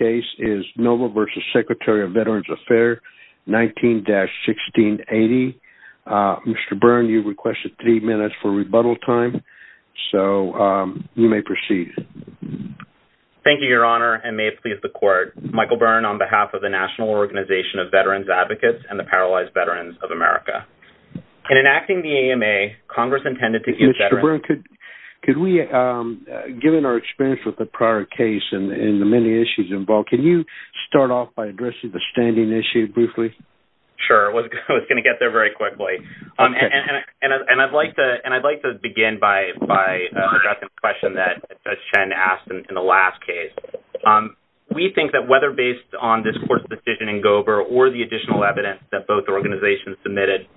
19-1680. Mr. Byrne, you requested three minutes for rebuttal time, so you may proceed. Thank you, Your Honor, and may it please the Court, Michael Byrne, on behalf of the National Organization of Veterans Advocates and the Paralyzed Veterans of America. In enacting the AMA, Congress intended to give veterans... Mr. Byrne, could we, given our experience with the prior case and the many issues involved, can you start off by addressing the standing issue briefly? Sure. I was going to get there very quickly. Okay. And I'd like to begin by addressing the question that Judge Chen asked in the last case. We think that whether based on this Court's decision in Gober or the additional evidence that both organizations submitted,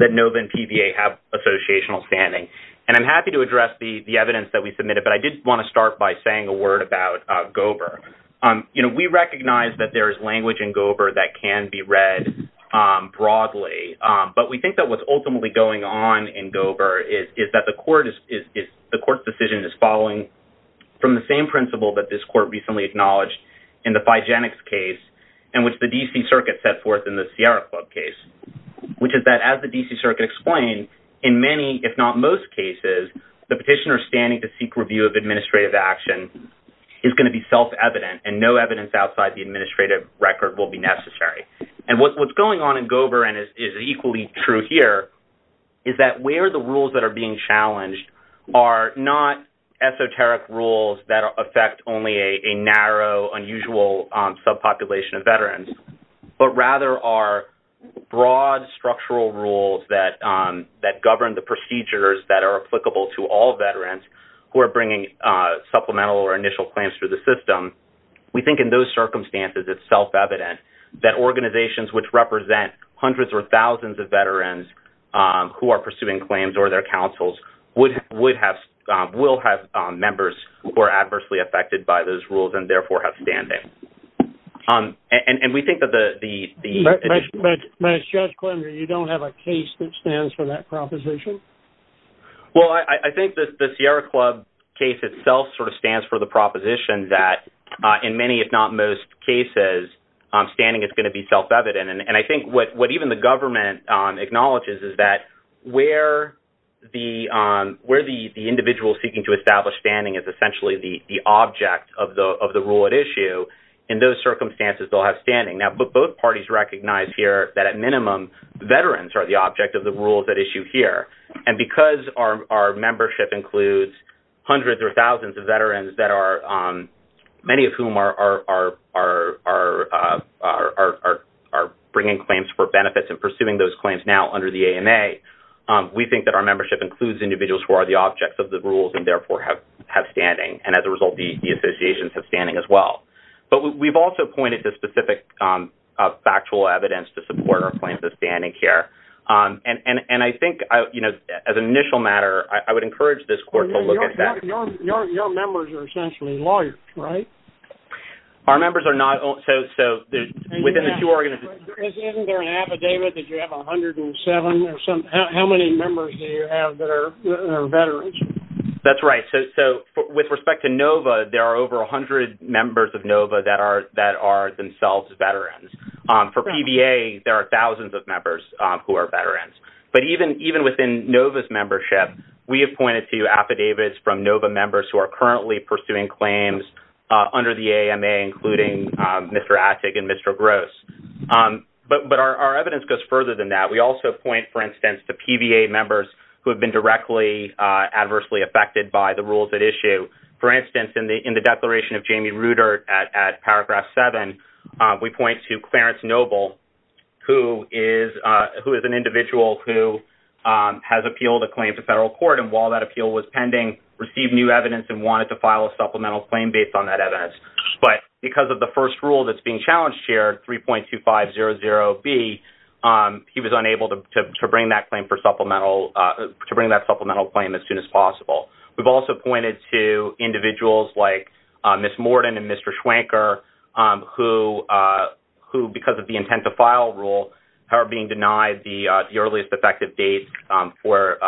that NOVA and PVA have associational standing. And I'm happy to address the evidence that we submitted, but I did want to start by saying a word about Gober. You know, we recognize that there is language in Gober that can be read broadly, but we think that what's ultimately going on in Gober is that the Court's decision is following from the same principle that this Court recently acknowledged in the Figenics case and which the D.C. Circuit set forth in the Sierra Club case, which is that as the D.C. Circuit explained, in many, if not most, cases, the petitioner standing to seek review of administrative action is going to be self-evident and no evidence outside the administrative record will be necessary. And what's going on in Gober and is equally true here is that where the rules that are being challenged are not esoteric rules that affect only a narrow, unusual subpopulation of veterans, but rather are broad, structural rules that govern the procedures that are applicable to all veterans who are bringing supplemental or initial claims through the system, we think in those circumstances it's self-evident that organizations which represent hundreds or thousands of veterans who are pursuing claims or their counsels will have members who are adversely affected by those rules and therefore have standing. And we think that the... But, Judge Klemner, you don't have a case that stands for that proposition? Well, I think the Sierra Club case itself sort of stands for the proposition that in many, if not most, cases, standing is going to be self-evident. And I think what even the government acknowledges is that where the individual seeking to establish standing is essentially the object of the rule at issue. In those circumstances, they'll have standing. Now, both parties recognize here that, at minimum, veterans are the object of the rules at issue here. And because our membership includes hundreds or thousands of veterans, many of whom are bringing claims for benefits and pursuing those claims now under the AMA, we think that our membership includes individuals who are the objects of the rules and therefore have standing. And as a result, the associations have standing as well. But we've also pointed to specific factual evidence to support our claims of standing here. And I think, you know, as an initial matter, I would encourage this court to look at that. Your members are essentially lawyers, right? Our members are not... So within the two organizations... Isn't there an affidavit that you have 107 or something? How many members do you have that are veterans? That's right. So with respect to NOVA, there are over 100 members of NOVA that are themselves veterans. For PVA, there are thousands of members who are veterans. But even within NOVA's membership, we have pointed to affidavits from NOVA members who are currently pursuing claims under the AMA, including Mr. Atik and Mr. Gross. But our evidence goes further than that. We also point, for instance, to PVA members who have been directly adversely affected by the rules at issue. For instance, in the declaration of Jamie Rudert at Paragraph 7, we point to Clarence Noble, who is an individual who has appealed a claim to federal court. And while that appeal was pending, received new evidence and wanted to file a supplemental claim based on that evidence. But because of the first rule that's being challenged here, 3.2500B, he was unable to bring that supplemental claim as soon as possible. We've also pointed to individuals like Ms. Morden and Mr. Schwanker who, because of the intent to file rule, are being denied the earliest effective date for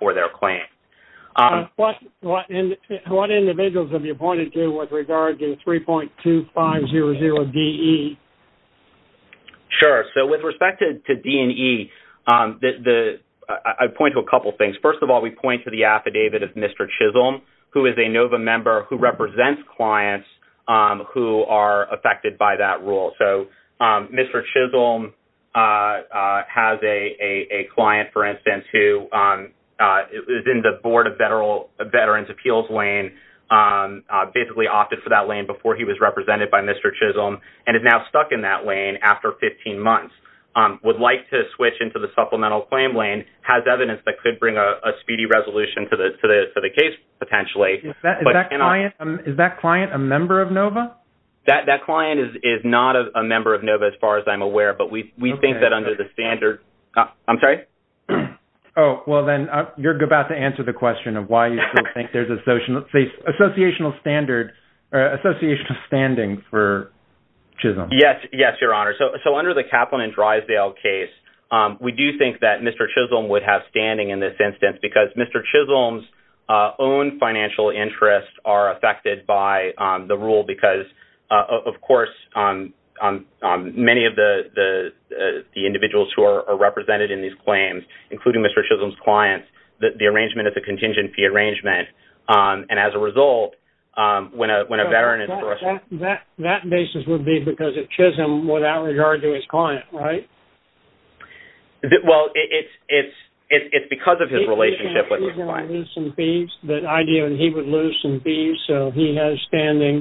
their claim. What individuals have you pointed to with regard to 3.2500DE? Sure. So with respect to D&E, I point to a couple things. First of all, we point to the affidavit of Mr. Chisholm, who is a NOVA member who represents clients who are affected by that rule. So Mr. Chisholm has a client, for instance, who is in the Board of Veterans' Appeals lane, basically opted for that lane before he was represented by Mr. Chisholm, and is now stuck in that lane after 15 months, would like to switch into the supplemental claim lane, has evidence that could bring a speedy resolution to the case, potentially. That client is not a member of NOVA, as far as I'm aware, but we think that under the standard... I'm sorry? Oh, well then, you're about to answer the question of why you think there's an associational standing for Chisholm. Yes, Your Honor. So under the Kaplan and Drysdale case, we do think that Mr. Chisholm would have standing in this instance, because Mr. Chisholm's own financial interests are affected by the rule, because, of course, many of the individuals who are represented in these claims, including Mr. Chisholm's clients, the arrangement is a contingency arrangement, and as a result, when a veteran is... That basis would be because of Chisholm without regard to his client, right? Well, it's because of his relationship with his client. He would lose some fees, so he has standing.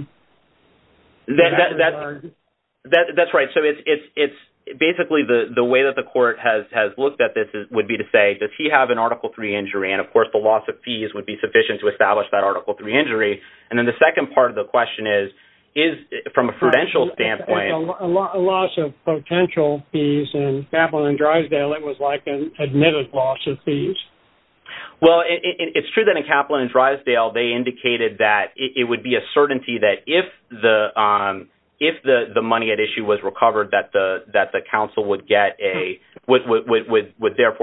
That's right. So it's basically the way that the court has looked at this would be to say, does he have an Article III injury? And, of course, the loss of fees would be sufficient to establish that Article III injury. And then the second part of the question is, from a prudential standpoint... In Kaplan and Drysdale, it was like an admitted loss of fees. Well, it's true that in Kaplan and Drysdale, they indicated that it would be a certainty that if the money at issue was recovered, that the counsel would therefore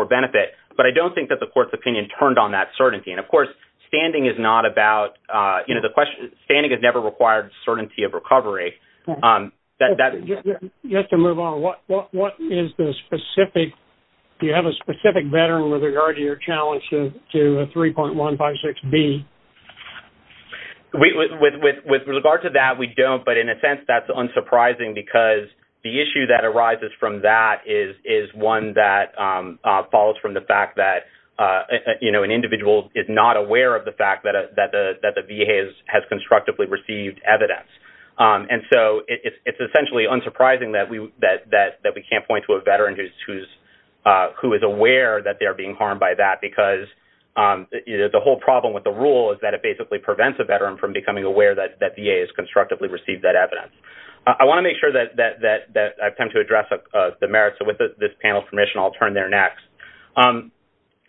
benefit. But I don't think that the court's opinion turned on that certainty. And, of course, standing is not about... Standing has never required certainty of recovery. You have to move on. What is the specific... Do you have a specific veteran with regard to your challenge to 3.156B? With regard to that, we don't. But, in a sense, that's unsurprising because the issue that arises from that is one that follows from the fact that, you know, an individual is not aware of the fact that the VA has constructively received evidence. And so it's essentially unsurprising that we can't point to a veteran who is aware that they are being harmed by that because the whole problem with the rule is that it basically prevents a veteran from becoming aware that VA has constructively received that evidence. I want to make sure that I attempt to address the merits. So, with this panel's permission, I'll turn there next.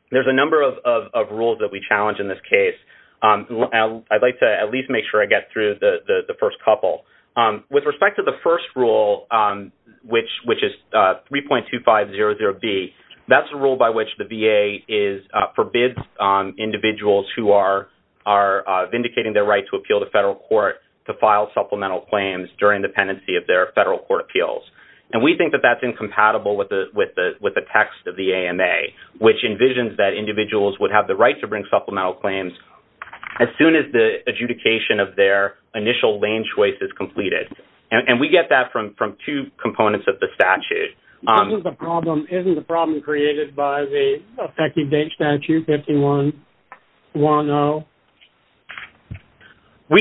There's a number of rules that we challenge in this case. I'd like to at least make sure I get through the first couple. With respect to the first rule, which is 3.2500B, that's a rule by which the VA forbids individuals who are vindicating their right to appeal to federal court to file supplemental claims during the pendency of their federal court appeals. And we think that that's incompatible with the text of the AMA, which envisions that individuals would have the right to bring supplemental claims as soon as the adjudication of their initial lane choice is completed. And we get that from two components of the statute. Isn't the problem created by the effective date statute, 5110? Well,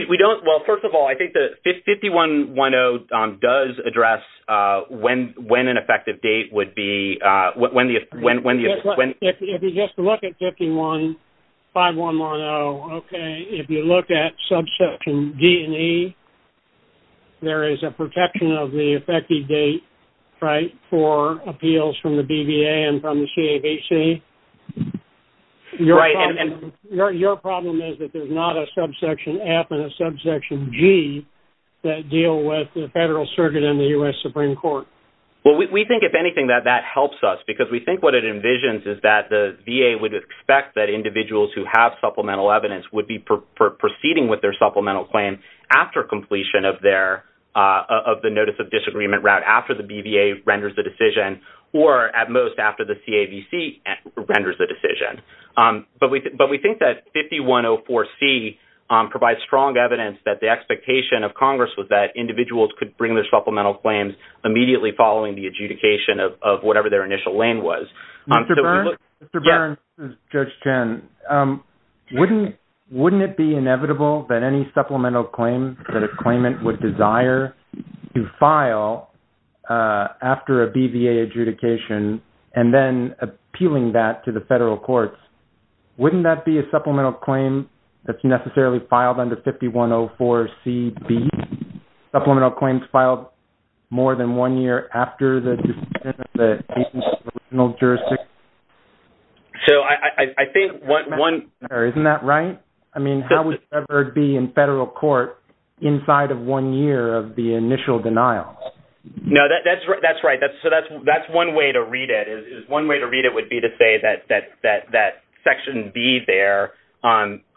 first of all, I think that 5110 does address when an effective date would be. If you just look at 5110, if you look at subsection D and E, there is a protection of the effective date for appeals from the BVA and from the CABC. Your problem is that there's not a subsection F and a subsection G that deal with the federal circuit in the U.S. Supreme Court. Well, we think, if anything, that that helps us, because we think what it envisions is that the VA would expect that individuals who have supplemental evidence would be proceeding with their supplemental claim after completion of the notice of disagreement route, after the BVA renders the decision, or at most after the CABC renders the decision. But we think that 5104C provides strong evidence that the expectation of Congress was that individuals could bring their supplemental claims immediately following the adjudication of whatever their initial lane was. Mr. Byrne? Yes. This is Judge Chen. Wouldn't it be inevitable that any supplemental claim that a claimant would desire to file after a BVA adjudication and then appealing that to the federal courts, wouldn't that be a supplemental claim that's necessarily filed under 5104CB? Supplemental claims filed more than one year after the decision of the agency's original jurisdiction? So I think one... Isn't that right? I mean, how would it ever be in federal court inside of one year of the initial denial? No, that's right. So that's one way to read it. One way to read it would be to say that Section B there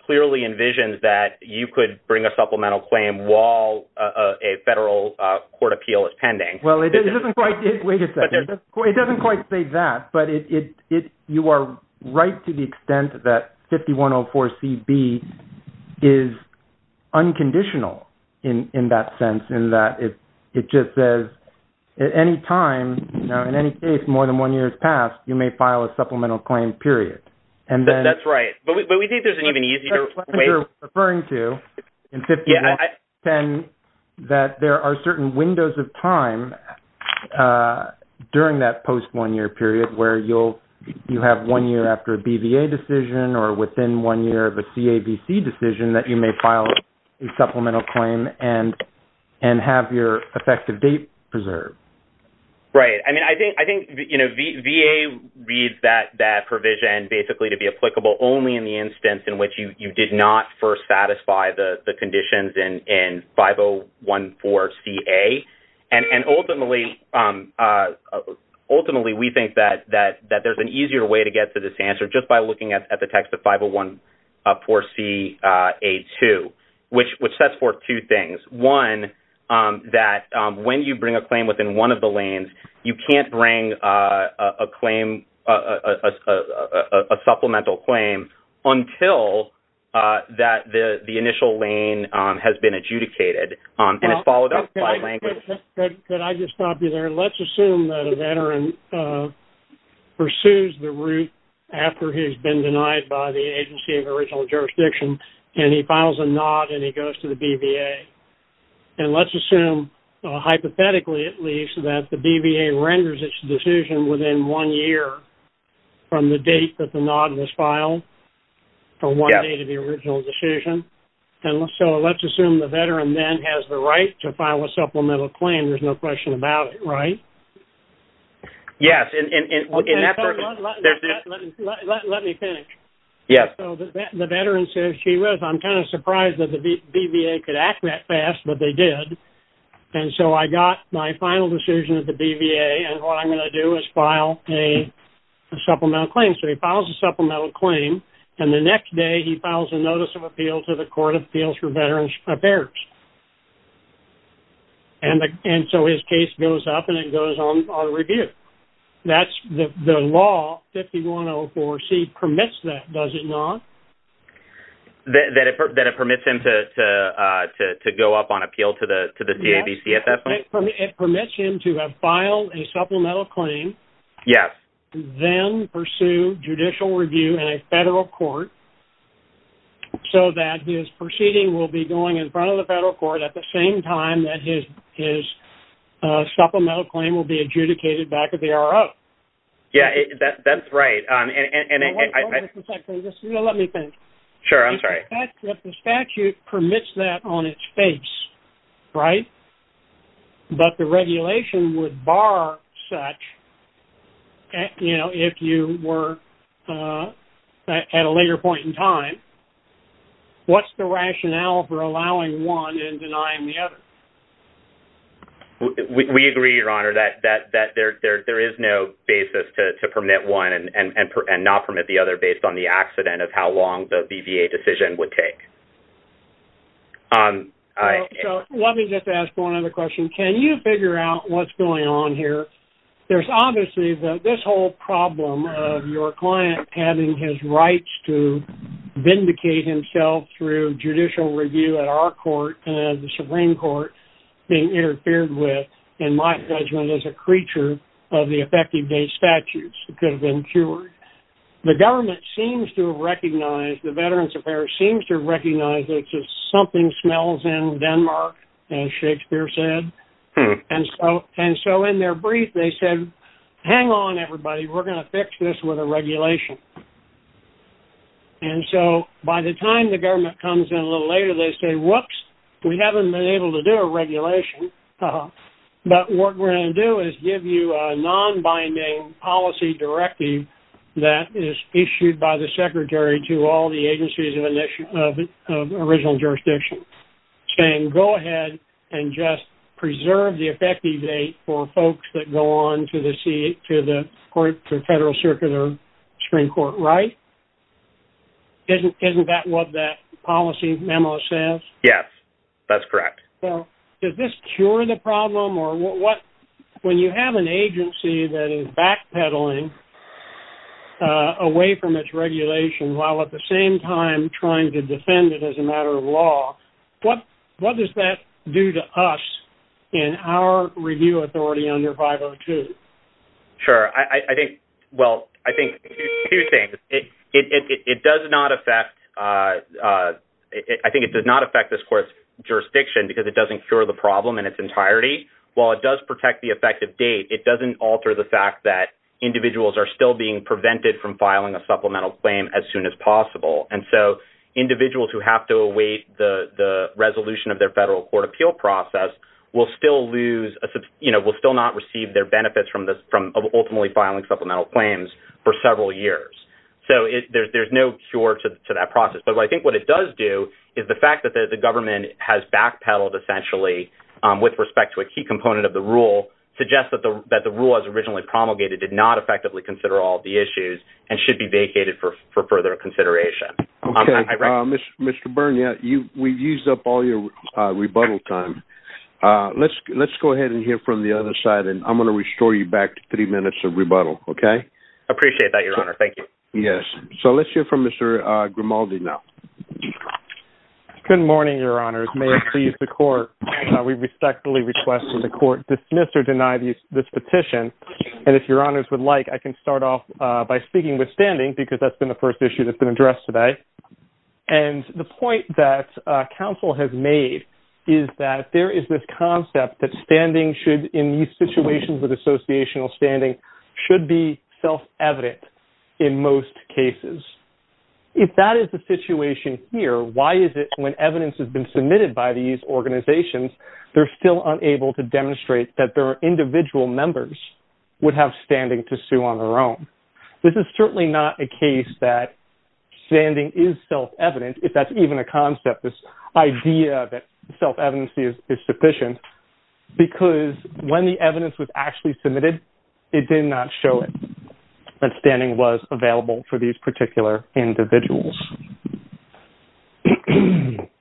clearly envisions that you could bring a supplemental claim while a federal court appeal is pending. Well, it doesn't quite... Wait a second. It doesn't quite say that, but you are right to the extent that 5104CB is unconditional in that sense in that it just says at any time, you know, in any case more than one year has passed, you may file a supplemental claim, period. That's right. But we think there's an even easier way... Yeah, I... Right. I mean, I think, you know, VA reads that provision basically to be applicable only in the instance in which you did not first satisfy the conditions in 5014CA. And ultimately, we think that there's an easier way to get to this answer just by looking at the text of 5014CA2, which sets forth two things. One, that when you bring a claim within one of the lanes, you can't bring a claim, a supplemental claim until that the initial lane has been adjudicated. And it's followed up by language... Could I just stop you there? Let's assume that a veteran pursues the route after he's been denied by the agency of the original jurisdiction, and he files a NOD, and he goes to the BVA. And let's assume, hypothetically at least, that the BVA renders its decision within one year from the date that the NOD was filed for one day to the original decision. And so let's assume the veteran then has the right to file a supplemental claim. There's no question about it, right? Yes, and in that... Let me finish. Yes. So the veteran says she was. I'm kind of surprised that the BVA could act that fast, but they did. And so I got my final decision at the BVA, and what I'm going to do is file a supplemental claim. So he files a supplemental claim, and the next day he files a notice of appeal to the Court of Appeals for Veterans Affairs. And so his case goes up, and it goes on review. That's the law, 5104C, permits that, does it not? That it permits him to go up on appeal to the CAVC at that point? It permits him to file a supplemental claim, then pursue judicial review in a federal court so that his proceeding will be going in front of the federal court at the same time that his supplemental claim will be adjudicated back at the RO. Yes, that's right. Hold on just a second. Let me think. Sure, I'm sorry. The statute permits that on its face, right? But the regulation would bar such, you know, if you were at a later point in time. What's the rationale for allowing one and denying the other? We agree, Your Honor, that there is no basis to permit one and not permit the other based on the accident of how long the BVA decision would take. So let me just ask one other question. Can you figure out what's going on here? There's obviously this whole problem of your client having his rights to vindicate himself through judicial review at our court, the Supreme Court, being interfered with, in my judgment, as a creature of the effective date statutes. It could have been cured. The government seems to recognize, the Veterans Affairs seems to recognize that something smells in Denmark, as Shakespeare said. And so in their brief, they said, hang on, everybody. We're going to fix this with a regulation. And so by the time the government comes in a little later, they say, whoops, we haven't been able to do a regulation. But what we're going to do is give you a non-binding policy directive that is issued by the Secretary to all the agencies of original jurisdiction, saying go ahead and just preserve the effective date for folks that go on to the federal circuit or Supreme Court. Right? Isn't that what that policy memo says? Yes, that's correct. Does this cure the problem? When you have an agency that is backpedaling away from its regulation while at the same time trying to defend it as a matter of law, what does that do to us in our review authority under 502? Sure. I think, well, I think two things. It does not affect, I think it does not affect this court's jurisdiction because it doesn't cure the problem in its entirety. While it does protect the effective date, it doesn't alter the fact that individuals are still being prevented from filing a supplemental claim as soon as possible. And so individuals who have to await the resolution of their federal court appeal process will still lose, you know, will still not receive their benefits from ultimately filing supplemental claims for several years. So there's no cure to that process. But I think what it does do is the fact that the government has backpedaled essentially with respect to a key component of the rule suggests that the rule as originally promulgated did not effectively consider all of the issues and should be vacated for further consideration. Okay. Mr. Byrne, we've used up all your rebuttal time. Let's go ahead and hear from the other side, and I'm going to restore you back to three minutes of rebuttal, okay? Appreciate that, Your Honor. Thank you. Yes. So let's hear from Mr. Grimaldi now. Good morning, Your Honors. May it please the court, we respectfully request that the court dismiss or deny this petition. And if Your Honors would like, I can start off by speaking with standing, because that's been the first issue that's been addressed today. And the point that counsel has made is that there is this concept that standing should, in these situations with associational standing, should be self-evident in most cases. If that is the situation here, why is it when evidence has been submitted by these organizations, they're still unable to demonstrate that their individual members would have standing to sue on their own? This is certainly not a case that standing is self-evident, if that's even a concept, this idea that self-evidency is sufficient, because when the evidence was actually submitted, it did not show that standing was available for these particular individuals.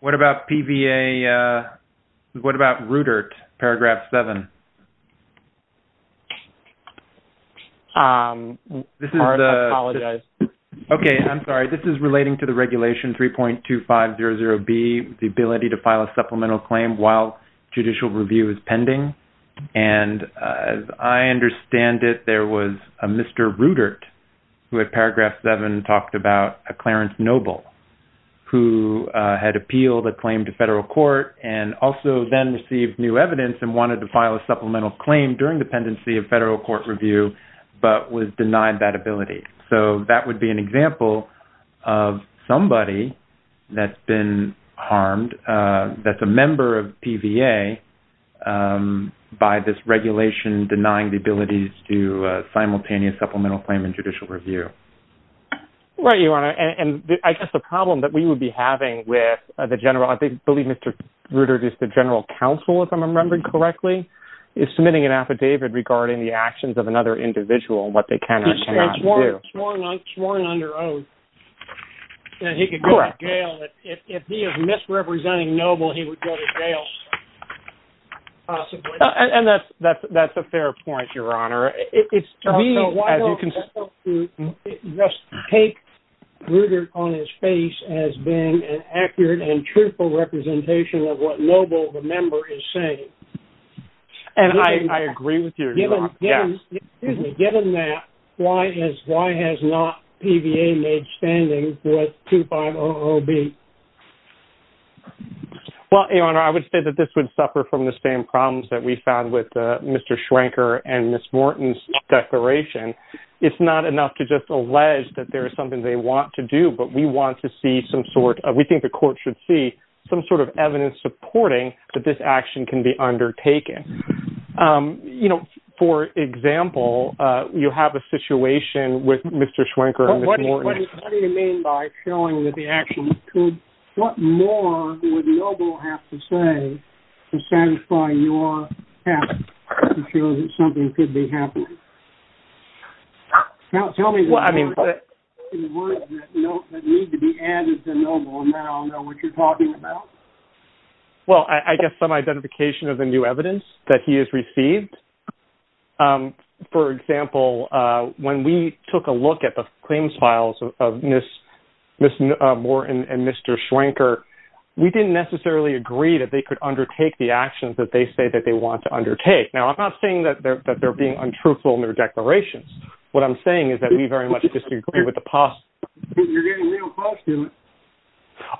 What about PVA, what about Rudert, Paragraph 7? I apologize. Okay, I'm sorry. This is relating to the Regulation 3.2500B, the ability to file a supplemental claim while judicial review is pending. And as I understand it, there was a Mr. Rudert, who at Paragraph 7 talked about a Clarence Noble, who had appealed a claim to federal court and also then received new evidence and wanted to file a supplemental claim during dependency of federal court review, but was denied that ability. So that would be an example of somebody that's been harmed, that's a member of PVA by this regulation denying the ability to do judicial review. Right, Your Honor. And I guess the problem that we would be having with the general, I believe Mr. Rudert is the general counsel, if I'm remembering correctly, is submitting an affidavit regarding the actions of another individual and what they can or cannot do. He's sworn under oath that he could go to jail. Correct. If he is misrepresenting Noble, he would go to jail, possibly. And that's a fair point, Your Honor. To me, why don't they just take Rudert on his face as being an accurate and truthful representation of what Noble, the member, is saying? And I agree with you, Your Honor. Given that, why has not PVA made standing with 2500B? Well, Your Honor, I would say that this would suffer from the same problems that we found with Mr. Schwenker and Ms. Morton's declaration. It's not enough to just allege that there is something they want to do, but we want to see some sort of, we think the court should see some sort of evidence supporting that this action can be undertaken. You know, for example, you have a situation with Mr. Schwenker and Ms. Morton. What do you mean by showing that the actions could, what more would Noble have to say to satisfy your passion to show that something could be happening? Tell me the words that need to be added to Noble, and then I'll know what you're talking about. Well, I guess some identification of the new evidence that he has received. For example, when we took a look at the claims files of Ms. Morton and Mr. Schwenker, we didn't necessarily agree that they could undertake the actions that they say that they want to undertake. Now I'm not saying that they're being untruthful in their declarations. What I'm saying is that we very much disagree with the past. You're getting real close to it.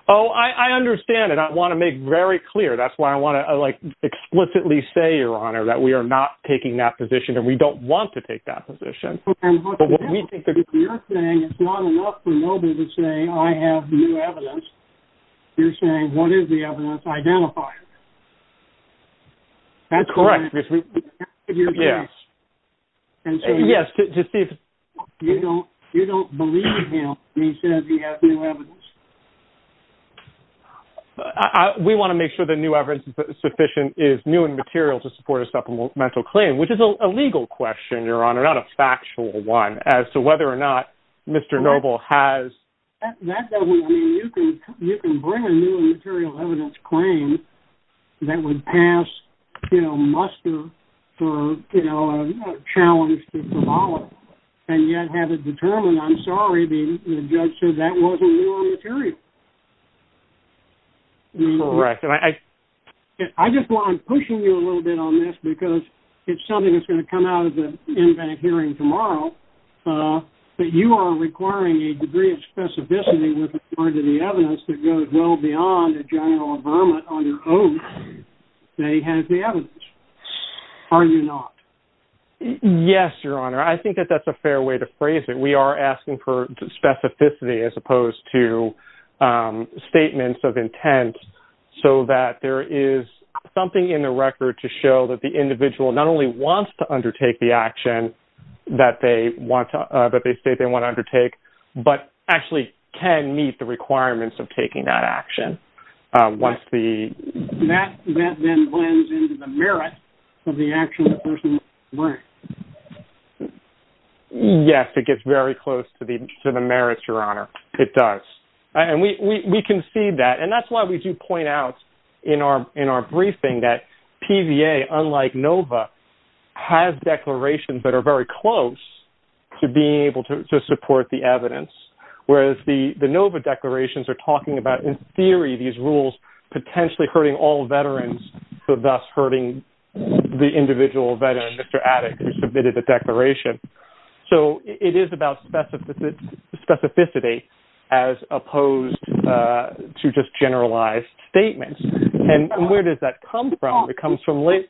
Oh, I understand. And I want to make very clear. That's why I want to like explicitly say, Your Honor, that we are not taking that position and we don't want to take that position. You're saying it's not enough for Noble to say, I have new evidence. You're saying, what is the evidence identified? That's correct. Yes. You don't believe him when he says he has new evidence? We want to make sure the new evidence is sufficient, is new and material to support a supplemental claim, which is a legal question, Your Honor, not a factual one as to whether or not Mr. Noble has. That doesn't mean you can, you can bring a new material evidence claim that would pass, you know, muster for, you know, a challenge to symbolic and yet have it determined. I'm sorry. The judge said that wasn't your material. Correct. And I, I just want, I'm pushing you a little bit on this because it's something that's going to come out of the hearing tomorrow. But you are requiring a degree of specificity with regard to the evidence that goes well beyond a general Obama on your own. They have the evidence. Are you not? Yes, Your Honor. I think that that's a fair way to phrase it. We are asking for specificity as opposed to statements of intent. So that there is something in the record to show that the individual not only wants to undertake the action that they want to, but they say they want to undertake, but actually can meet the requirements of taking that action. Once the. Merit of the action. Yes, it gets very close to the, to the merits, Your Honor. It does. And we, we, we can see that. And that's why we do point out in our, in our briefing that PVA, unlike NOVA has declarations that are very close to being able to, to support the evidence. Whereas the, the NOVA declarations are talking about in theory, these rules potentially hurting all veterans. So thus hurting the individual veteran, Mr. Atticus submitted a declaration. So it is about specificity as opposed to just generalized statements. And where does that come from? The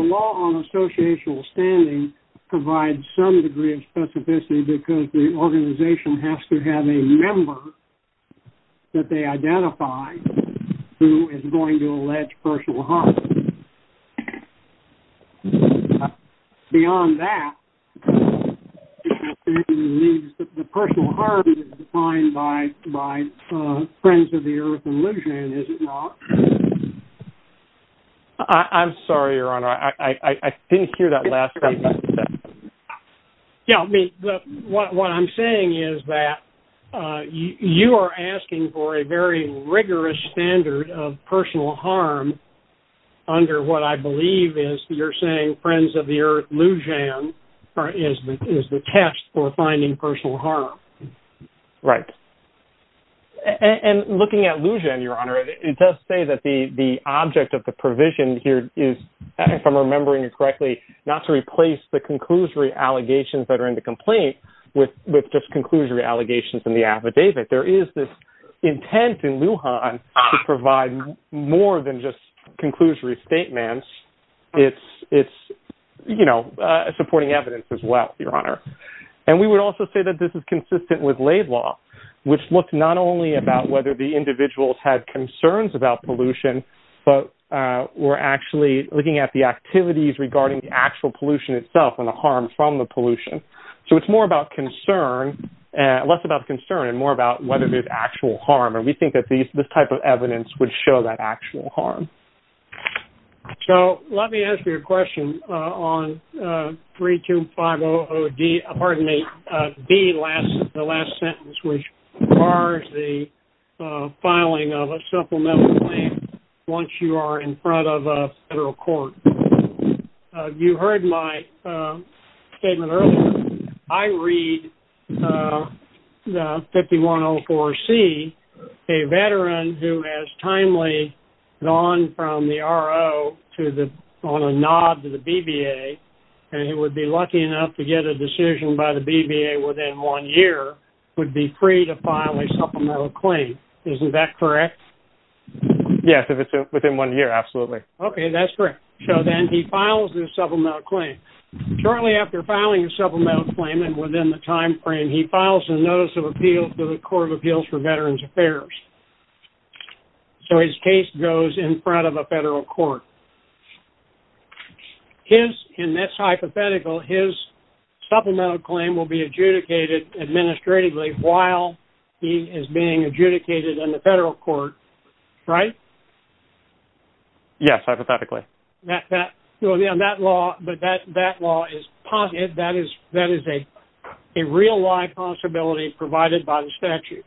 law on associational standing provides some degree of specificity because the organization has to have a member that they identify who is going to allege personal harm. Beyond that, the personal harm is defined by, by friends of the earth. And is it wrong? I'm sorry, Your Honor. I didn't hear that last time. Yeah. What I'm saying is that you are asking for a very rigorous standard of personal harm under what I believe is you're saying friends of the earth, Lujan is the test for finding personal harm. Right. And looking at Lujan, Your Honor, it does say that the object of the provision here is, if I'm remembering it correctly, not to replace the conclusory allegations that are in the complaint with, with just conclusory allegations in the affidavit. There is this intent in Lujan to provide more than just conclusory statements. It's, it's, you know, supporting evidence as well, Your Honor. And we would also say that this is consistent with laid law, which looked not only about whether the individuals had concerns about pollution, but, uh, we're actually looking at the activities regarding the actual pollution itself and the harm from the pollution. So it's more about concern and less about concern and more about whether there's actual harm. And we think that these, this type of evidence would show that actual harm. So let me ask you a question on, uh, 3, 2, 5, 0, 0, D, pardon me, uh, B last, the last sentence, which are the, uh, filing of a supplemental claim once you are in front of a federal court, uh, you heard my, uh, statement earlier. I read, uh, 5104 C a veteran who has timely gone from the RO to the, on a nod to the BBA. And he would be lucky enough to get a decision by the BBA within one year would be free to file a supplemental claim. Isn't that correct? Yes. If it's within one year, absolutely. Okay. That's correct. So then he files a supplemental claim. Shortly after filing a supplemental claim and within the timeframe, he files a notice of appeal to the court of appeals for veterans affairs. So his case goes in front of a federal court. His in this hypothetical, his supplemental claim will be adjudicated administratively while he is being adjudicated in the federal court, right? Yes. Hypothetically. That law, but that, that law is positive. That is, that is a real life possibility provided by the statute.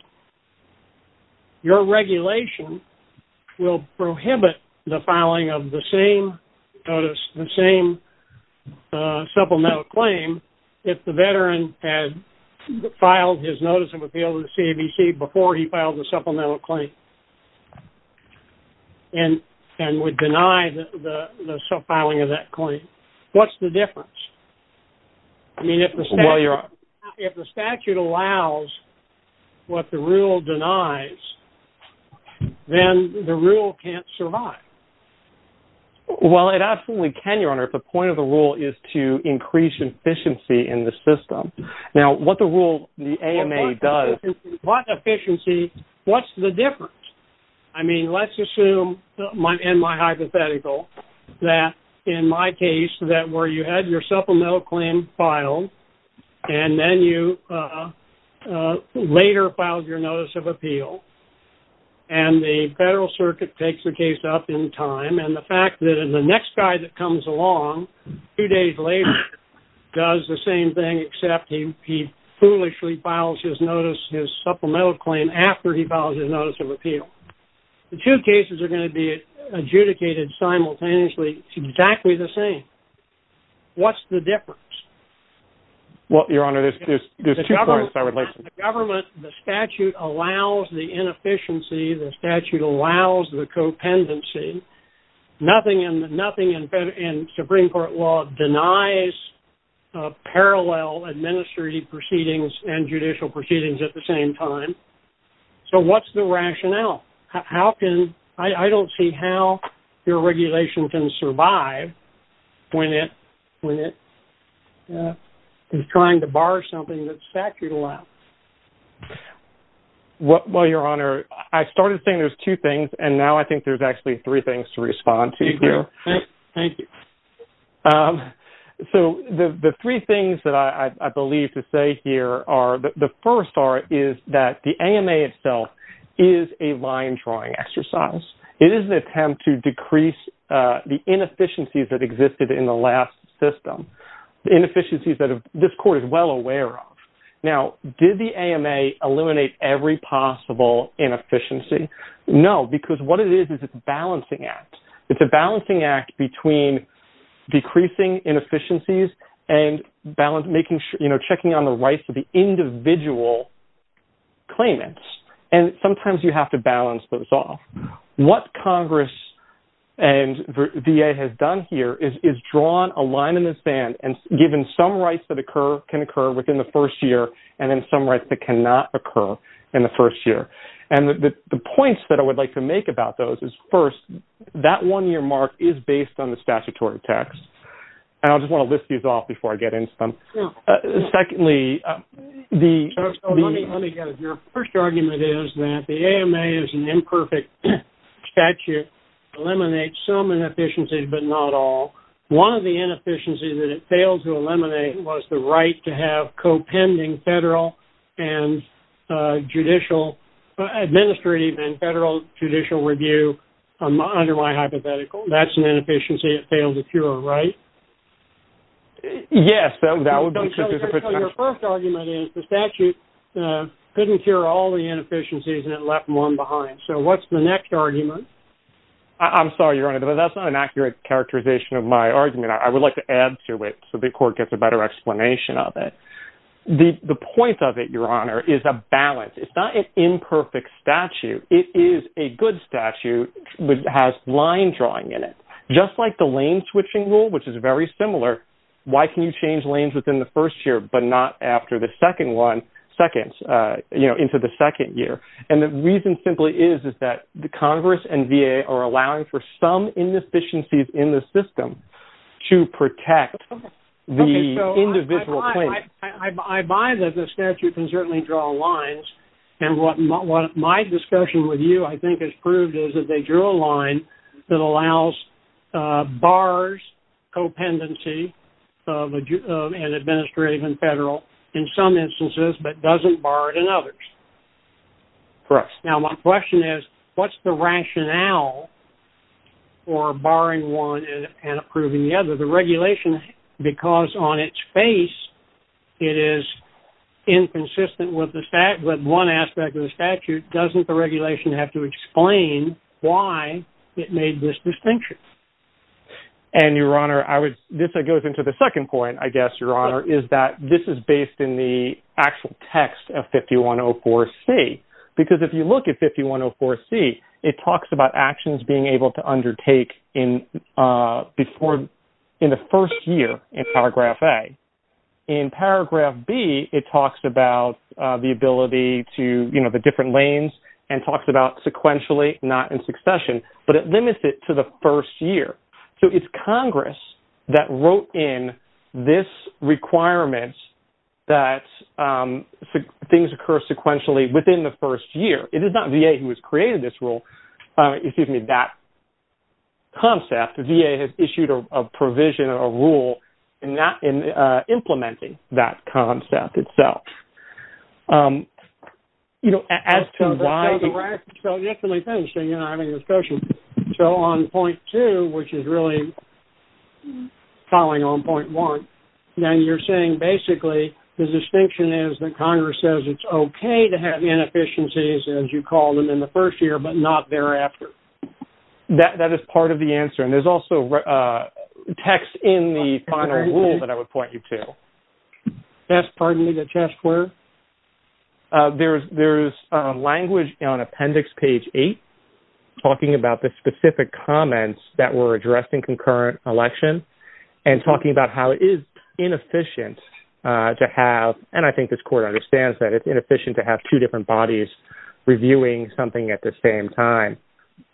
Your regulation will prohibit the filing of the same notice, the same supplemental claim. If the veteran had filed his notice of appeal to the CBC before he filed a supplemental claim and, and would deny the filing of that claim. What's the difference? I mean, if the statute allows what the rule denies, then the rule can't survive. Well, it absolutely can. Your Honor. The point of the rule is to increase efficiency in the system. Now, what the rule, the AMA does. What efficiency, what's the difference? I mean, let's assume my, in my hypothetical that in my case, that where you had your supplemental claim filed and then you, uh, uh, later filed your notice of appeal and the federal circuit takes the case up in time. And the fact that in the next guy that comes along, two days later does the same thing, except he foolishly files his notice, his supplemental claim after he filed his notice of appeal. Well, the two cases are going to be adjudicated simultaneously. It's exactly the same. What's the difference? Well, your Honor, there's, there's two parts. I would like the government, the statute allows the inefficiency. The statute allows the co-pendency nothing in the nothing in fed and Supreme Court law denies a parallel administrative proceedings and judicial proceedings at the same time. So what's the rationale? How can, I don't see how your regulation can survive when it, when it is trying to bar something that's statute allowed. What, well, your Honor, I started saying there's two things and now I think there's actually three things to respond to. Thank you. Um, so the, the first are is that the AMA itself is a line drawing exercise. It is an attempt to decrease, uh, the inefficiencies that existed in the last system, the inefficiencies that this court is well aware of. Now, did the AMA eliminate every possible inefficiency? No, because what it is is it's balancing act. It's a balancing act between decreasing inefficiencies and balance, making sure, you know, checking on the rights of the individual claimants. And sometimes you have to balance those off what Congress and VA has done here is, is drawn a line in the sand and given some rights that occur can occur within the first year. And then some rights that cannot occur in the first year. And the points that I would like to make about those is first that one year mark is based on the statutory text. And I'll just want to list these off before I get into them. Secondly, the first argument is that the AMA is an imperfect statute, eliminate some inefficiencies, but not all. One of the inefficiencies that it failed to eliminate was the right to have co-pending federal and, uh, judicial, administrative and federal judicial review. I'm under my hypothetical. That's an inefficiency. It failed to cure. Right? Yes. That would be your first argument is the statute, uh, couldn't cure all the inefficiencies and it left one behind. So what's the next argument. I'm sorry, your Honor, but that's not an accurate characterization of my argument. I would like to add to it. So the court gets a better explanation of it. The, the point of it, your Honor is a balance. It's not an imperfect statute. It is a good statute, but it has line drawing in it. Just like the lane switching rule, which is very similar. Why can you change lanes within the first year, but not after the second one seconds, uh, you know, into the second year. And the reason simply is, is that the Congress and VA are allowing for some inefficiencies in the system to protect the individual. I buy that the statute can certainly draw lines. And what my discussion with you, I think has proved is that they drew a line that allows, uh, bars, co-pendency of an administrative and federal in some instances, but doesn't bar it in others. Correct. Now my question is what's the rationale for barring one and approving the other, the regulation, because on its face, it is inconsistent with the fact, but one aspect of the statute doesn't the regulation have to explain why it made this distinction. And your Honor, I would, this goes into the second point, I guess, your Honor is that this is based in the actual text of 5104 C, because if you look at 5104 C, it talks about actions being able to undertake in, uh, before, in the first year in paragraph a in paragraph B, it talks about, uh, the ability to, you know, the different lanes and talks about sequentially not in succession, but it limits it to the first year. So it's Congress that wrote in this requirements that, um, things occur sequentially within the first year. It is not VA who has created this rule. Uh, excuse me, that concept VA has issued a provision or a rule and not in, uh, implementing that concept itself. Um, you know, as to why, so yesterday we finished and you and I were having a discussion. So on point two, which is really calling on point one, then you're saying basically the distinction is that Congress says it's okay to have inefficiencies as you call them in the first year, but not thereafter. That, that is part of the answer. And there's also, uh, text in the final rule that I would point you to. Yes. Pardon me, the chess square. Uh, there's, there's, um, language on appendix page eight, talking about the specific comments that were addressed in concurrent election and talking about how it is inefficient, uh, to have. And I think this court understands that it's inefficient to have two different bodies reviewing something at the same time.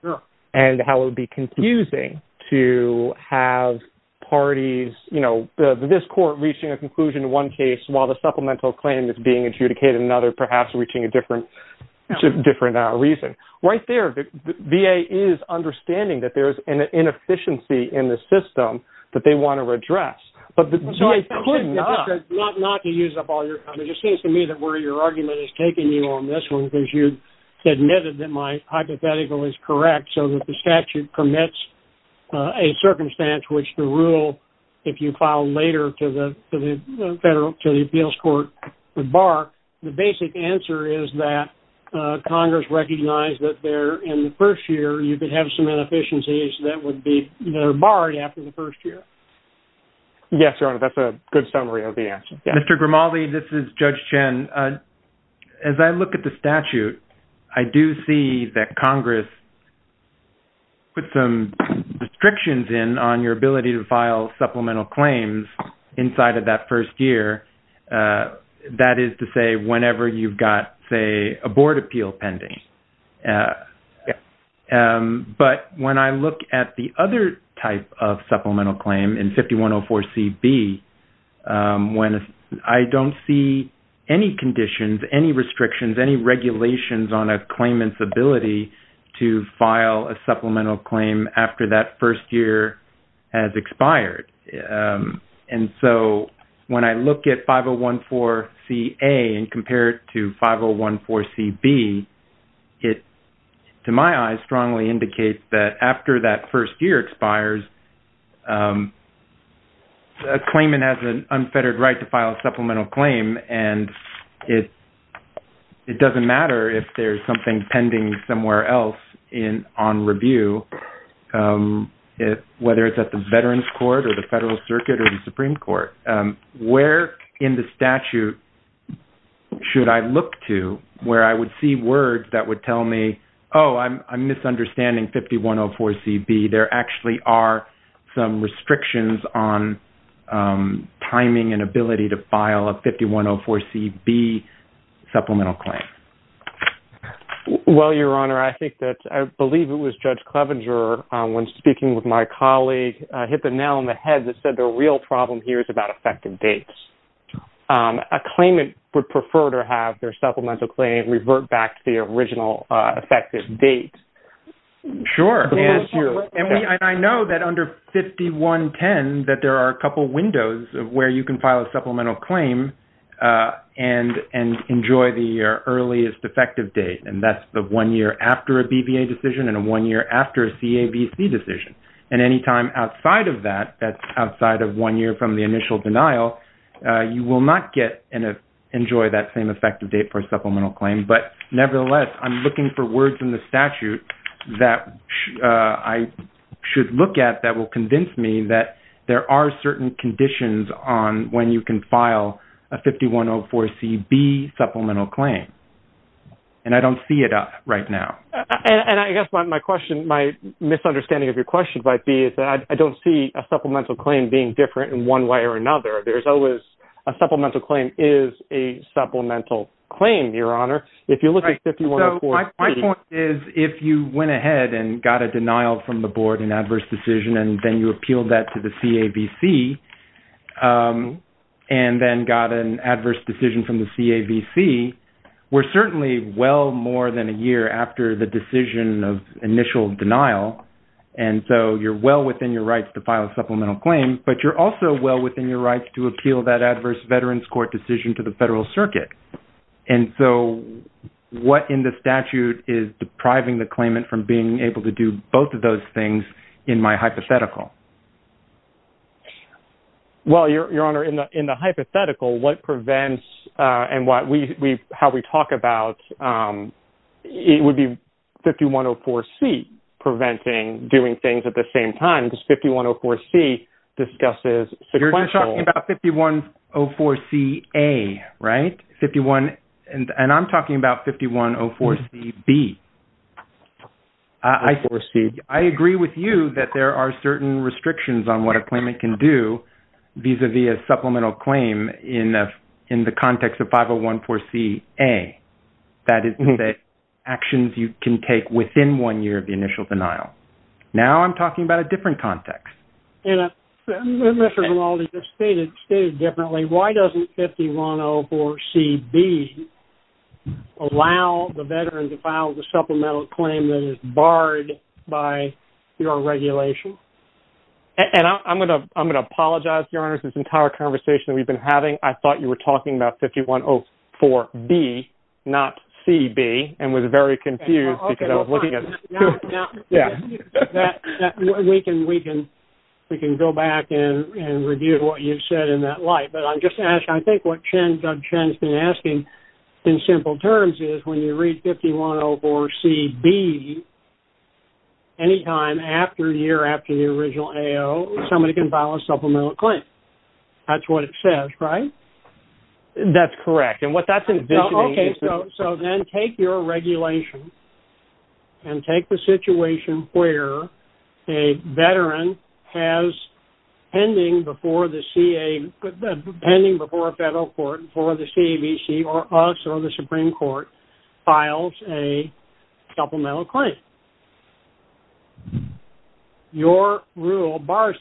Sure. And how it would be confusing to have parties, you know, the, this court reaching a conclusion to one case while the supplemental claim is being adjudicated another, perhaps reaching a different, different, uh, reason right there. The VA is understanding that there's an inefficiency in the system that they want to address, but the, not to use up all your time. It just seems to me that where your argument is taking you on this one, because you admitted that my hypothetical is correct. So that the statute permits a circumstance, which the rule, if you file later to the federal, to the appeals court, the bar, the basic answer is that, uh, Congress recognized that there in the first year, you could have some inefficiencies that would be borrowed after the first year. Yes, Your Honor. That's a good summary of the answer. Mr. Grimaldi, this is judge Chen. Uh, as I look at the statute, I do see that Congress put some restrictions in on your ability to file supplemental claims inside of that first year. Uh, that is to say, whenever you've got say a board appeal pending. Uh, um, but when I look at the other type of supplemental claim in 5104 CB, um, when I don't see any conditions, any restrictions, any regulations on a claimant's ability to file a supplemental claim after that first year has expired. Um, and so when I look at 5014 CA and compare it to 5014 CB, it, to my eyes, strongly indicates that after that first year expires, um, the claimant has an unfettered right to file a supplemental claim. And it, it doesn't matter if there's something pending somewhere else in on review. Um, it, whether it's at the veterans court or the federal circuit or the Supreme court, um, where in the statute should I look to where I would see words that would tell me, Oh, I'm, I'm misunderstanding 5104 CB. There actually are some restrictions on, um, timing and ability to file a 5104 CB supplemental claim. Well, your Honor, I think that I believe it was judge Clevenger. Um, when speaking with my colleague, I hit the nail on the head that said the real problem here is about effective dates. Um, a claimant would prefer to have their supplemental claim revert back to the original, uh, effective date. Sure. And I know that under 5110, that there are a couple of windows of where you can file a supplemental claim, uh, and, and enjoy the earliest effective date. And that's the one year after a BVA decision and a one year after a CAVC decision. And anytime outside of that, that's outside of one year from the initial denial, uh, you will not get an, uh, enjoy that same effective date for supplemental claim. But nevertheless, I'm looking for words in the statute. That, uh, I should look at that will convince me that there are certain conditions on when you can file a 5104 CB supplemental claim. And I don't see it right now. And I guess my, my question, my misunderstanding of your question might be is that I don't see a supplemental claim being different in one way or another. There's always a supplemental claim is a supplemental claim, your Honor. If you look at 5104. My point is if you went ahead and got a denial from the board and adverse decision, and then you appealed that to the CAVC, um, and then got an adverse decision from the CAVC, we're certainly well more than a year after the decision of initial denial. And so you're well within your rights to file a supplemental claim, but you're also well within your rights to appeal that adverse veterans court decision to the federal circuit. And so what in the statute is depriving the claimant from being able to do both of those things in my hypothetical? Well, your, your Honor in the, in the hypothetical, what prevents, uh, and what we, we, how we talk about, um, it would be 5104 C preventing doing things at the same time, because 5104 C discusses. So you're just talking about 5104 C a right 51. And I'm talking about 5104 C B. I see. I agree with you that there are certain restrictions on what a claimant can do vis-a-vis a supplemental claim in a, in the context of 5014 C a that is the actions you can take within one year of the initial denial. Now I'm talking about a different context. And Mr. Gimaldi just stated, stated differently. Why doesn't 5104 C B allow the veteran to file the supplemental claim that is barred by your regulation? And I'm going to, I'm going to apologize to your honors. This entire conversation that we've been having, I thought you were talking about 5104 B not C B and was very confused because I was looking at it. We can, we can, we can go back and, and review what you've said in that light, but I'm just asking, I think what Chen has been asking in simple terms is when you read 5104 C B anytime after a year after the original AO, somebody can file a supplemental claim. That's what it says, right? That's correct. And what that's. Okay. So then take your regulation and take the situation where a veteran has pending before the CA, pending before a federal court for the CBC or us or the Supreme Court files a supplemental claim. Your rule bars.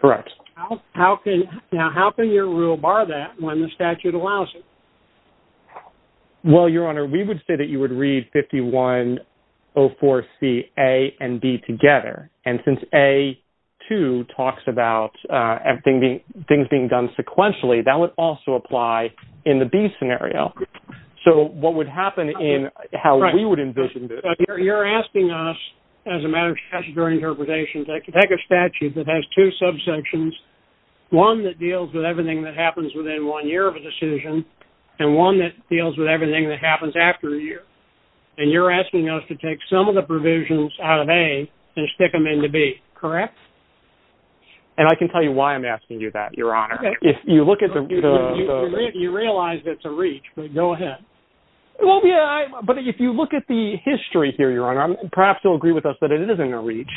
Correct. Now how can your rule bar that when the statute allows it? Well, your honor, we would say that you would read 5104 C A and B together. And since a two talks about everything being, things being done sequentially that would also apply in the B scenario. So what would happen in how we would envision? You're asking us as a matter of statutory interpretation, I can take a statute that has two subsections, one that deals with everything that happens within one year of a decision and one that deals with everything that happens after a year. And you're asking us to take some of the provisions out of A and stick them into B. Correct. And I can tell you why I'm asking you that your honor. If you look at the, you realize it's a reach, but go ahead. Well, yeah. But if you look at the history here, your honor, perhaps you'll agree with us that it isn't a reach.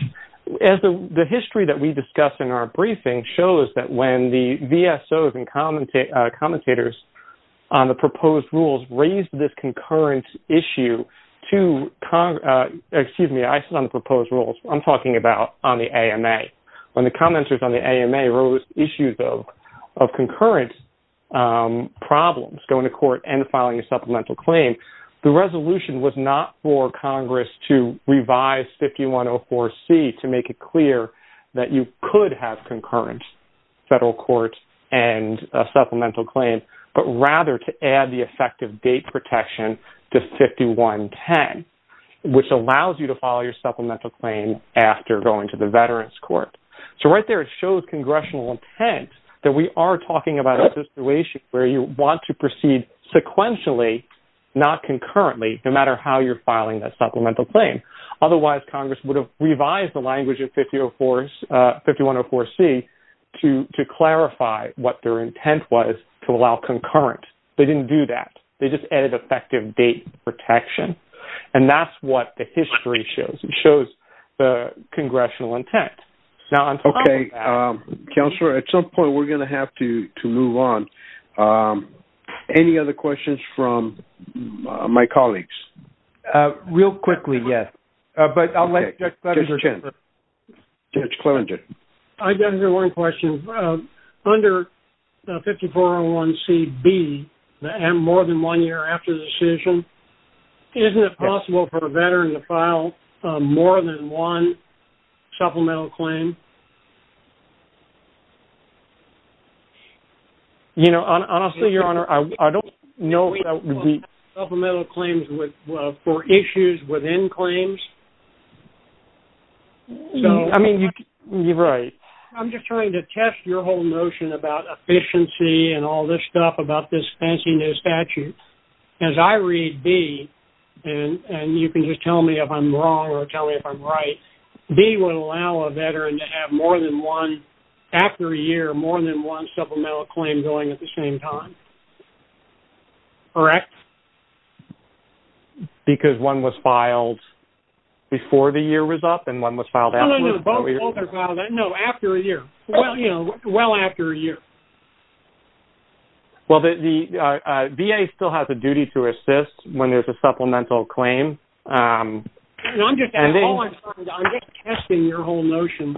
The history that we discussed in our briefing shows that when the VSOs and commentators on the proposed rules raised this concurrent issue to Congress, excuse me, I sit on the proposed rules I'm talking about on the AMA, when the commenters on the AMA rose issues of, of concurrent problems, going to court and filing a supplemental claim, the resolution was not for Congress to revise 5104 C to make it clear that you could have concurrent federal courts and a supplemental claim, but rather to add the effective date protection to 5110, which allows you to file your supplemental claim after going to the veterans court. So right there, it shows congressional intent that we are talking about a situation where you want to proceed sequentially, not concurrently, no matter how you're filing that supplemental claim. Otherwise Congress would have revised the language of 5104 C to, to clarify what their intent was to allow concurrent. They didn't do that. They just added effective date protection. And that's what the history shows. It shows the congressional intent. Okay. Counselor, at some point we're going to have to, to move on. Any other questions from my colleagues? Real quickly. Yes. But I'll let, I've got here one question under 5401 C B, the M more than one year after the decision, isn't it possible for a veteran to file more than one supplemental claim? You know, honestly, your honor, I don't know. Supplemental claims for issues within claims. I mean, you're right. I'm just trying to test your whole notion about efficiency and all this stuff about this fancy new statute. As I read B, and you can just tell me if I'm wrong or tell me if I'm right, B would allow a veteran to have more than one after a year, more than one supplemental claim going at the same time. Correct. Because one was filed before the year was up and one was filed. No, after a year. Well, you know, well after a year. Well, the VA still has a duty to assist when there's a supplemental claim. I'm just testing your whole notion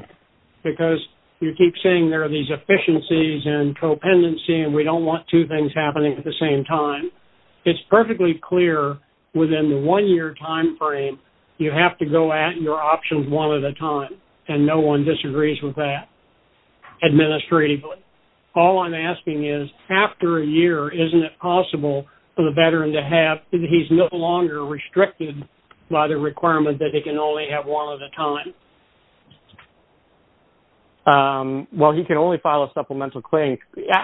because you keep saying there are these efficiencies and co-dependency and we don't want two things happening at the same time. It's perfectly clear within the one year timeframe, you have to go at your options one at a time. And no one disagrees with that administratively. All I'm asking is after a year, isn't it possible for the veteran to have, he's no longer restricted by the requirement that they can only have one at a time? Well, he can only file a supplemental claim.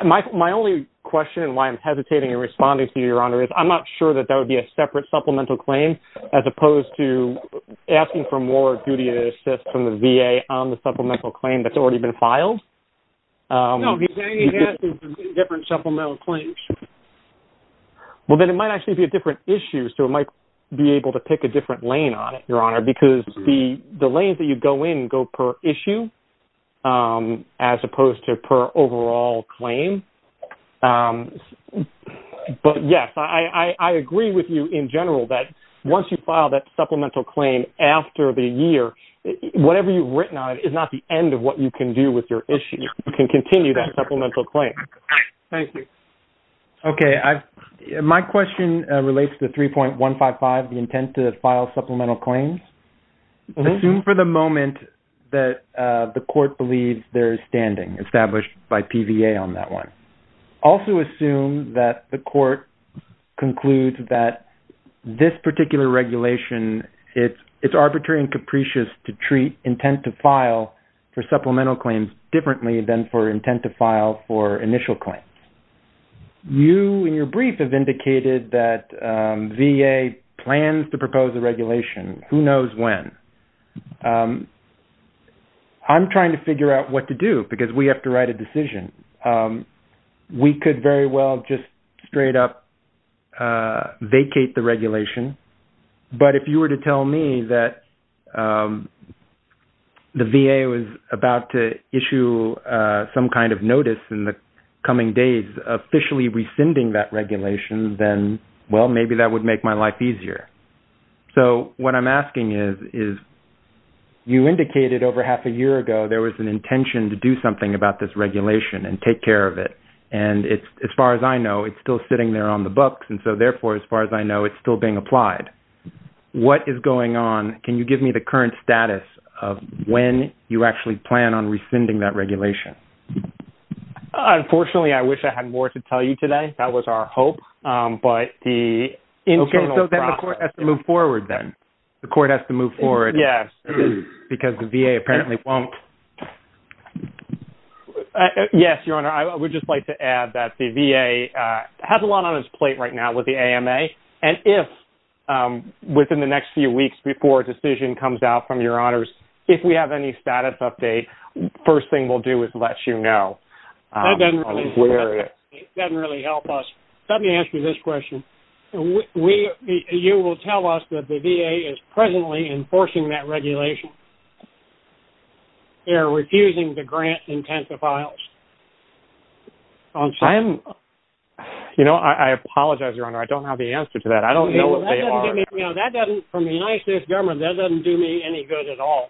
My only question and why I'm hesitating and responding to you, Your Honor, is I'm not sure that that would be a separate supplemental claim as opposed to asking for more duty to assist from the VA on the supplemental claim that's already been filed. No, he's asking for different supplemental claims. Well, then it might actually be a different issue. So it might be able to pick a different lane on it, Your Honor, because the lanes that you go in go per issue, as opposed to per overall claim. But yes, I agree with you in general that once you file that supplemental claim after the year, whatever you've written on it is not the end of what you can do with your issue. You can continue that supplemental claim. Thank you. Okay. My question relates to 3.155, the intent to file supplemental claims. Assume for the moment that the court believes there is standing established by PVA on that one. Also assume that the court concludes that this particular regulation, it's arbitrary and capricious to treat intent to file for supplemental claims differently than for intent to file for initial claims. You, in your brief, have indicated that VA plans to propose a regulation. Who knows when? I'm trying to figure out what to do because we have to write a decision. We could very well just straight up vacate the regulation. But if you were to tell me that the VA was about to issue some kind of notice in the coming days, officially rescinding that regulation, then, well, maybe that would make my life easier. What I'm asking is, you indicated over half a year ago there was an intention to do something about this regulation and take care of it. As far as I know, it's still sitting there on the books. Therefore, as far as I know, it's still being applied. What is going on? Can you give me the current status of when you actually plan on rescinding that regulation? Unfortunately, I wish I had more to tell you today. That was our hope. Okay, so the court has to move forward then? The court has to move forward because the VA apparently won't? Yes, Your Honor. I would just like to add that the VA has a lot on its plate right now with the AMA. And if within the next few weeks before a decision comes out from Your Honors, if we have any status update, first thing we'll do is let you know. That doesn't really help us. Let me ask you this question. You will tell us that the VA is presently enforcing that regulation. They're refusing to grant intensive files. I apologize, Your Honor. I don't have the answer to that. I don't know what they are. From the United States government, that doesn't do me any good at all.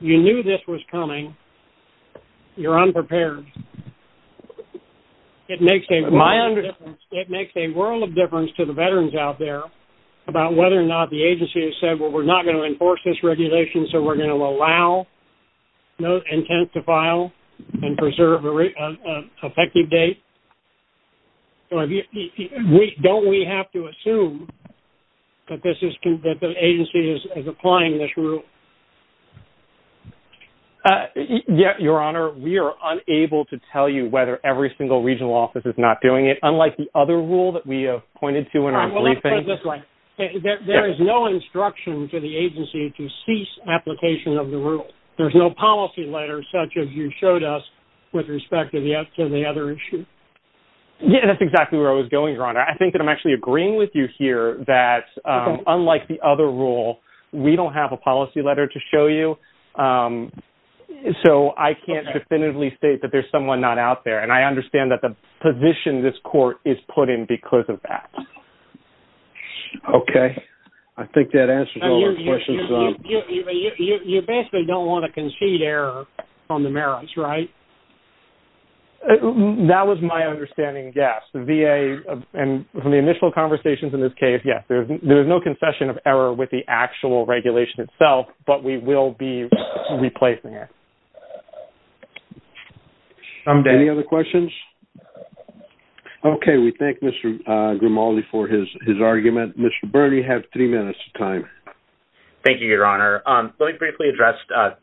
You knew this was coming. You're unprepared. It makes a world of difference to the veterans out there about whether or not the agency has said, well, we're not going to enforce this regulation, so we're going to allow no intensive file and preserve an effective date. Don't we have to assume that the agency is applying this rule? Yes, Your Honor. We are unable to tell you whether every single regional office is not doing it, unlike the other rule that we have pointed to in our briefing. Let's put it this way. There is no instruction to the agency to cease application of the rule. There's no policy letter such as you showed us with respect to the other issue. Yes, that's exactly where I was going, Your Honor. I think that I'm actually agreeing with you here that, unlike the other rule, we don't have a policy letter to show you, so I can't definitively state that there's someone not out there. And I understand that the position this court is put in because of that. Okay. I think that answers all the questions. You basically don't want to concede error on the merits, right? That was my understanding, yes. The VA, from the initial conversations in this case, yes. There is no concession of error with the actual regulation itself, but we will be replacing it. Any other questions? Okay. We thank Mr. Grimaldi for his argument. Mr. Birney, you have three minutes of time. Thank you, Your Honor. Let me briefly address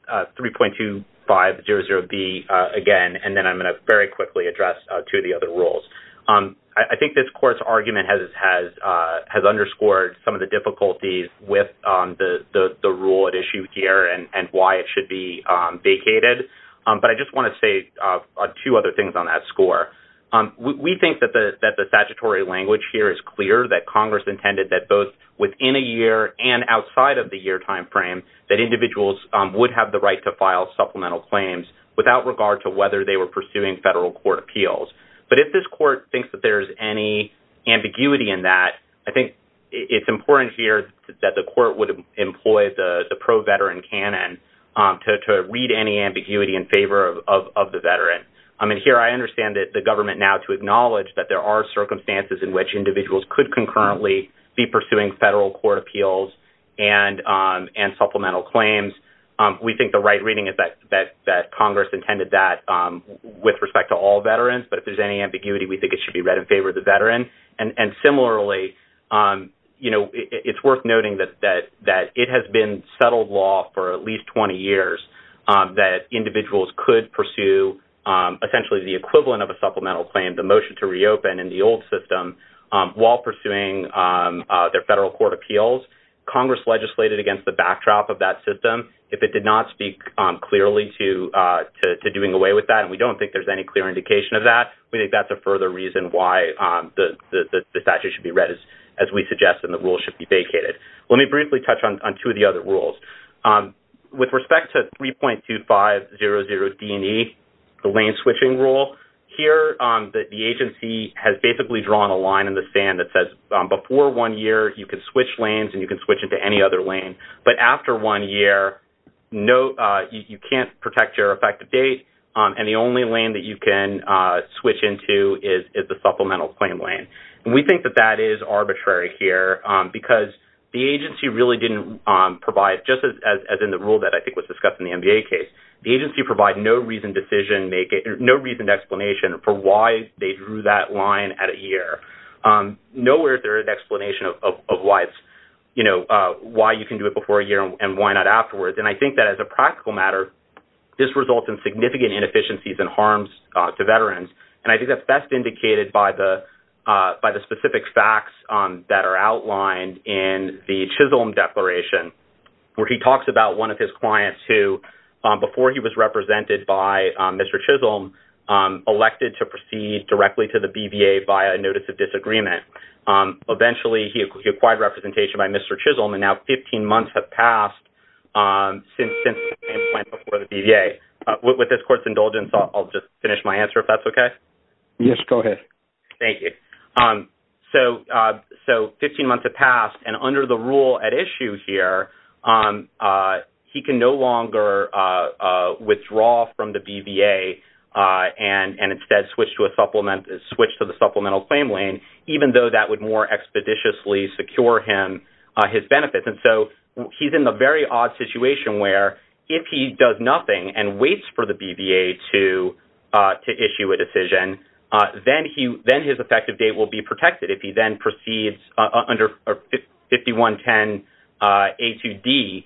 3.2500B again, and then I'm going to very quickly address two of the other rules. I think this court's argument has underscored some of the difficulties with the rule at issue here and why it should be vacated. But I just want to say two other things on that score. We think that the statutory language here is clear, that Congress intended that both within a year and outside of the year time frame, that individuals would have the right to file supplemental claims without regard to whether they were pursuing federal court appeals. But if this court thinks that there's any ambiguity in that, I think it's important here that the court would employ the pro-veteran canon to read any ambiguity in favor of the veteran. Here, I understand that the government now to acknowledge that there are circumstances in which individuals could concurrently be pursuing federal court appeals and supplemental claims. We think the right reading is that Congress intended that with respect to all if there's any ambiguity, we think it should be read in favor of the veteran. And similarly, you know, it's worth noting that it has been settled law for at least 20 years that individuals could pursue essentially the equivalent of a supplemental claim, the motion to reopen in the old system while pursuing their federal court appeals. Congress legislated against the backdrop of that system. If it did not speak clearly to doing away with that, and we don't think there's any clear indication of that, we think that's a further reason why the statute should be read as we suggest and the rule should be vacated. Let me briefly touch on two of the other rules. With respect to 3.2500D&E, the lane switching rule, here the agency has basically drawn a line in the sand that says before one year, you can switch lanes and you can switch into any other lane. But after one year, you can't protect your effective date, and the only lane that you can switch into is the supplemental claim lane. And we think that that is arbitrary here because the agency really didn't provide, just as in the rule that I think was discussed in the MBA case, the agency provided no reasoned decision, no reasoned explanation for why they drew that line at a year. Nowhere is there an explanation of why it's, you know, why you can do it before a year and why not afterwards. And I think that as a practical matter, this results in significant inefficiencies and harms to veterans. And I think that's best indicated by the specific facts that are outlined in the Chisholm declaration where he talks about one of his clients who, before he was represented by Mr. Chisholm, elected to proceed directly to the BVA via a notice of disagreement. Eventually, he acquired representation by Mr. Chisholm and now 15 months have passed since the plan before the BVA. With this court's indulgence, I'll just finish my answer if that's okay. Yes, go ahead. Thank you. So 15 months have passed and under the rule at issue here, he can no longer withdraw from the BVA and instead switch to the supplemental claim lane, even though that would more expeditiously secure him his benefits. And so he's in a very odd situation where if he does nothing and waits for the BVA to issue a decision, then his effective date will be protected. If he then proceeds under 5110A2D,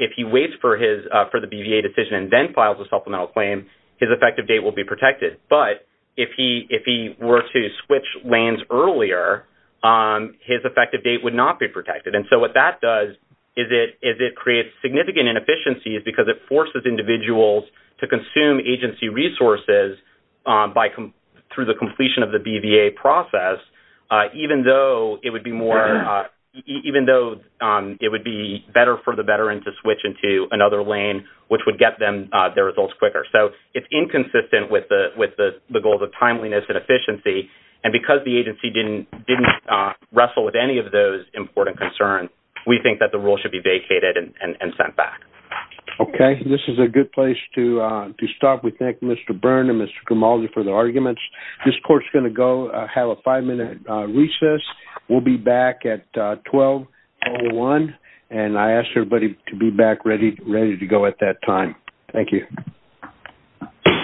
if he waits for the BVA decision and then files a supplemental claim, his effective date will be protected. But if he were to switch lanes earlier, his effective date would not be protected. And so what that does is it creates significant inefficiencies because it forces individuals to consume agency resources through the completion of the BVA process, even though it would be better for the veteran to switch into another lane, which would get them their results quicker. So it's inconsistent with the goals of timeliness and efficiency. And because the agency didn't wrestle with any of those important concerns, we think that the rule should be vacated and sent back. Okay. This is a good place to stop. We thank Mr. Byrne and Mr. Grimaldi for their arguments. This court's going to go have a five-minute recess. We'll be back at 12.01. And I ask everybody to be back ready to go at that time. Thank you.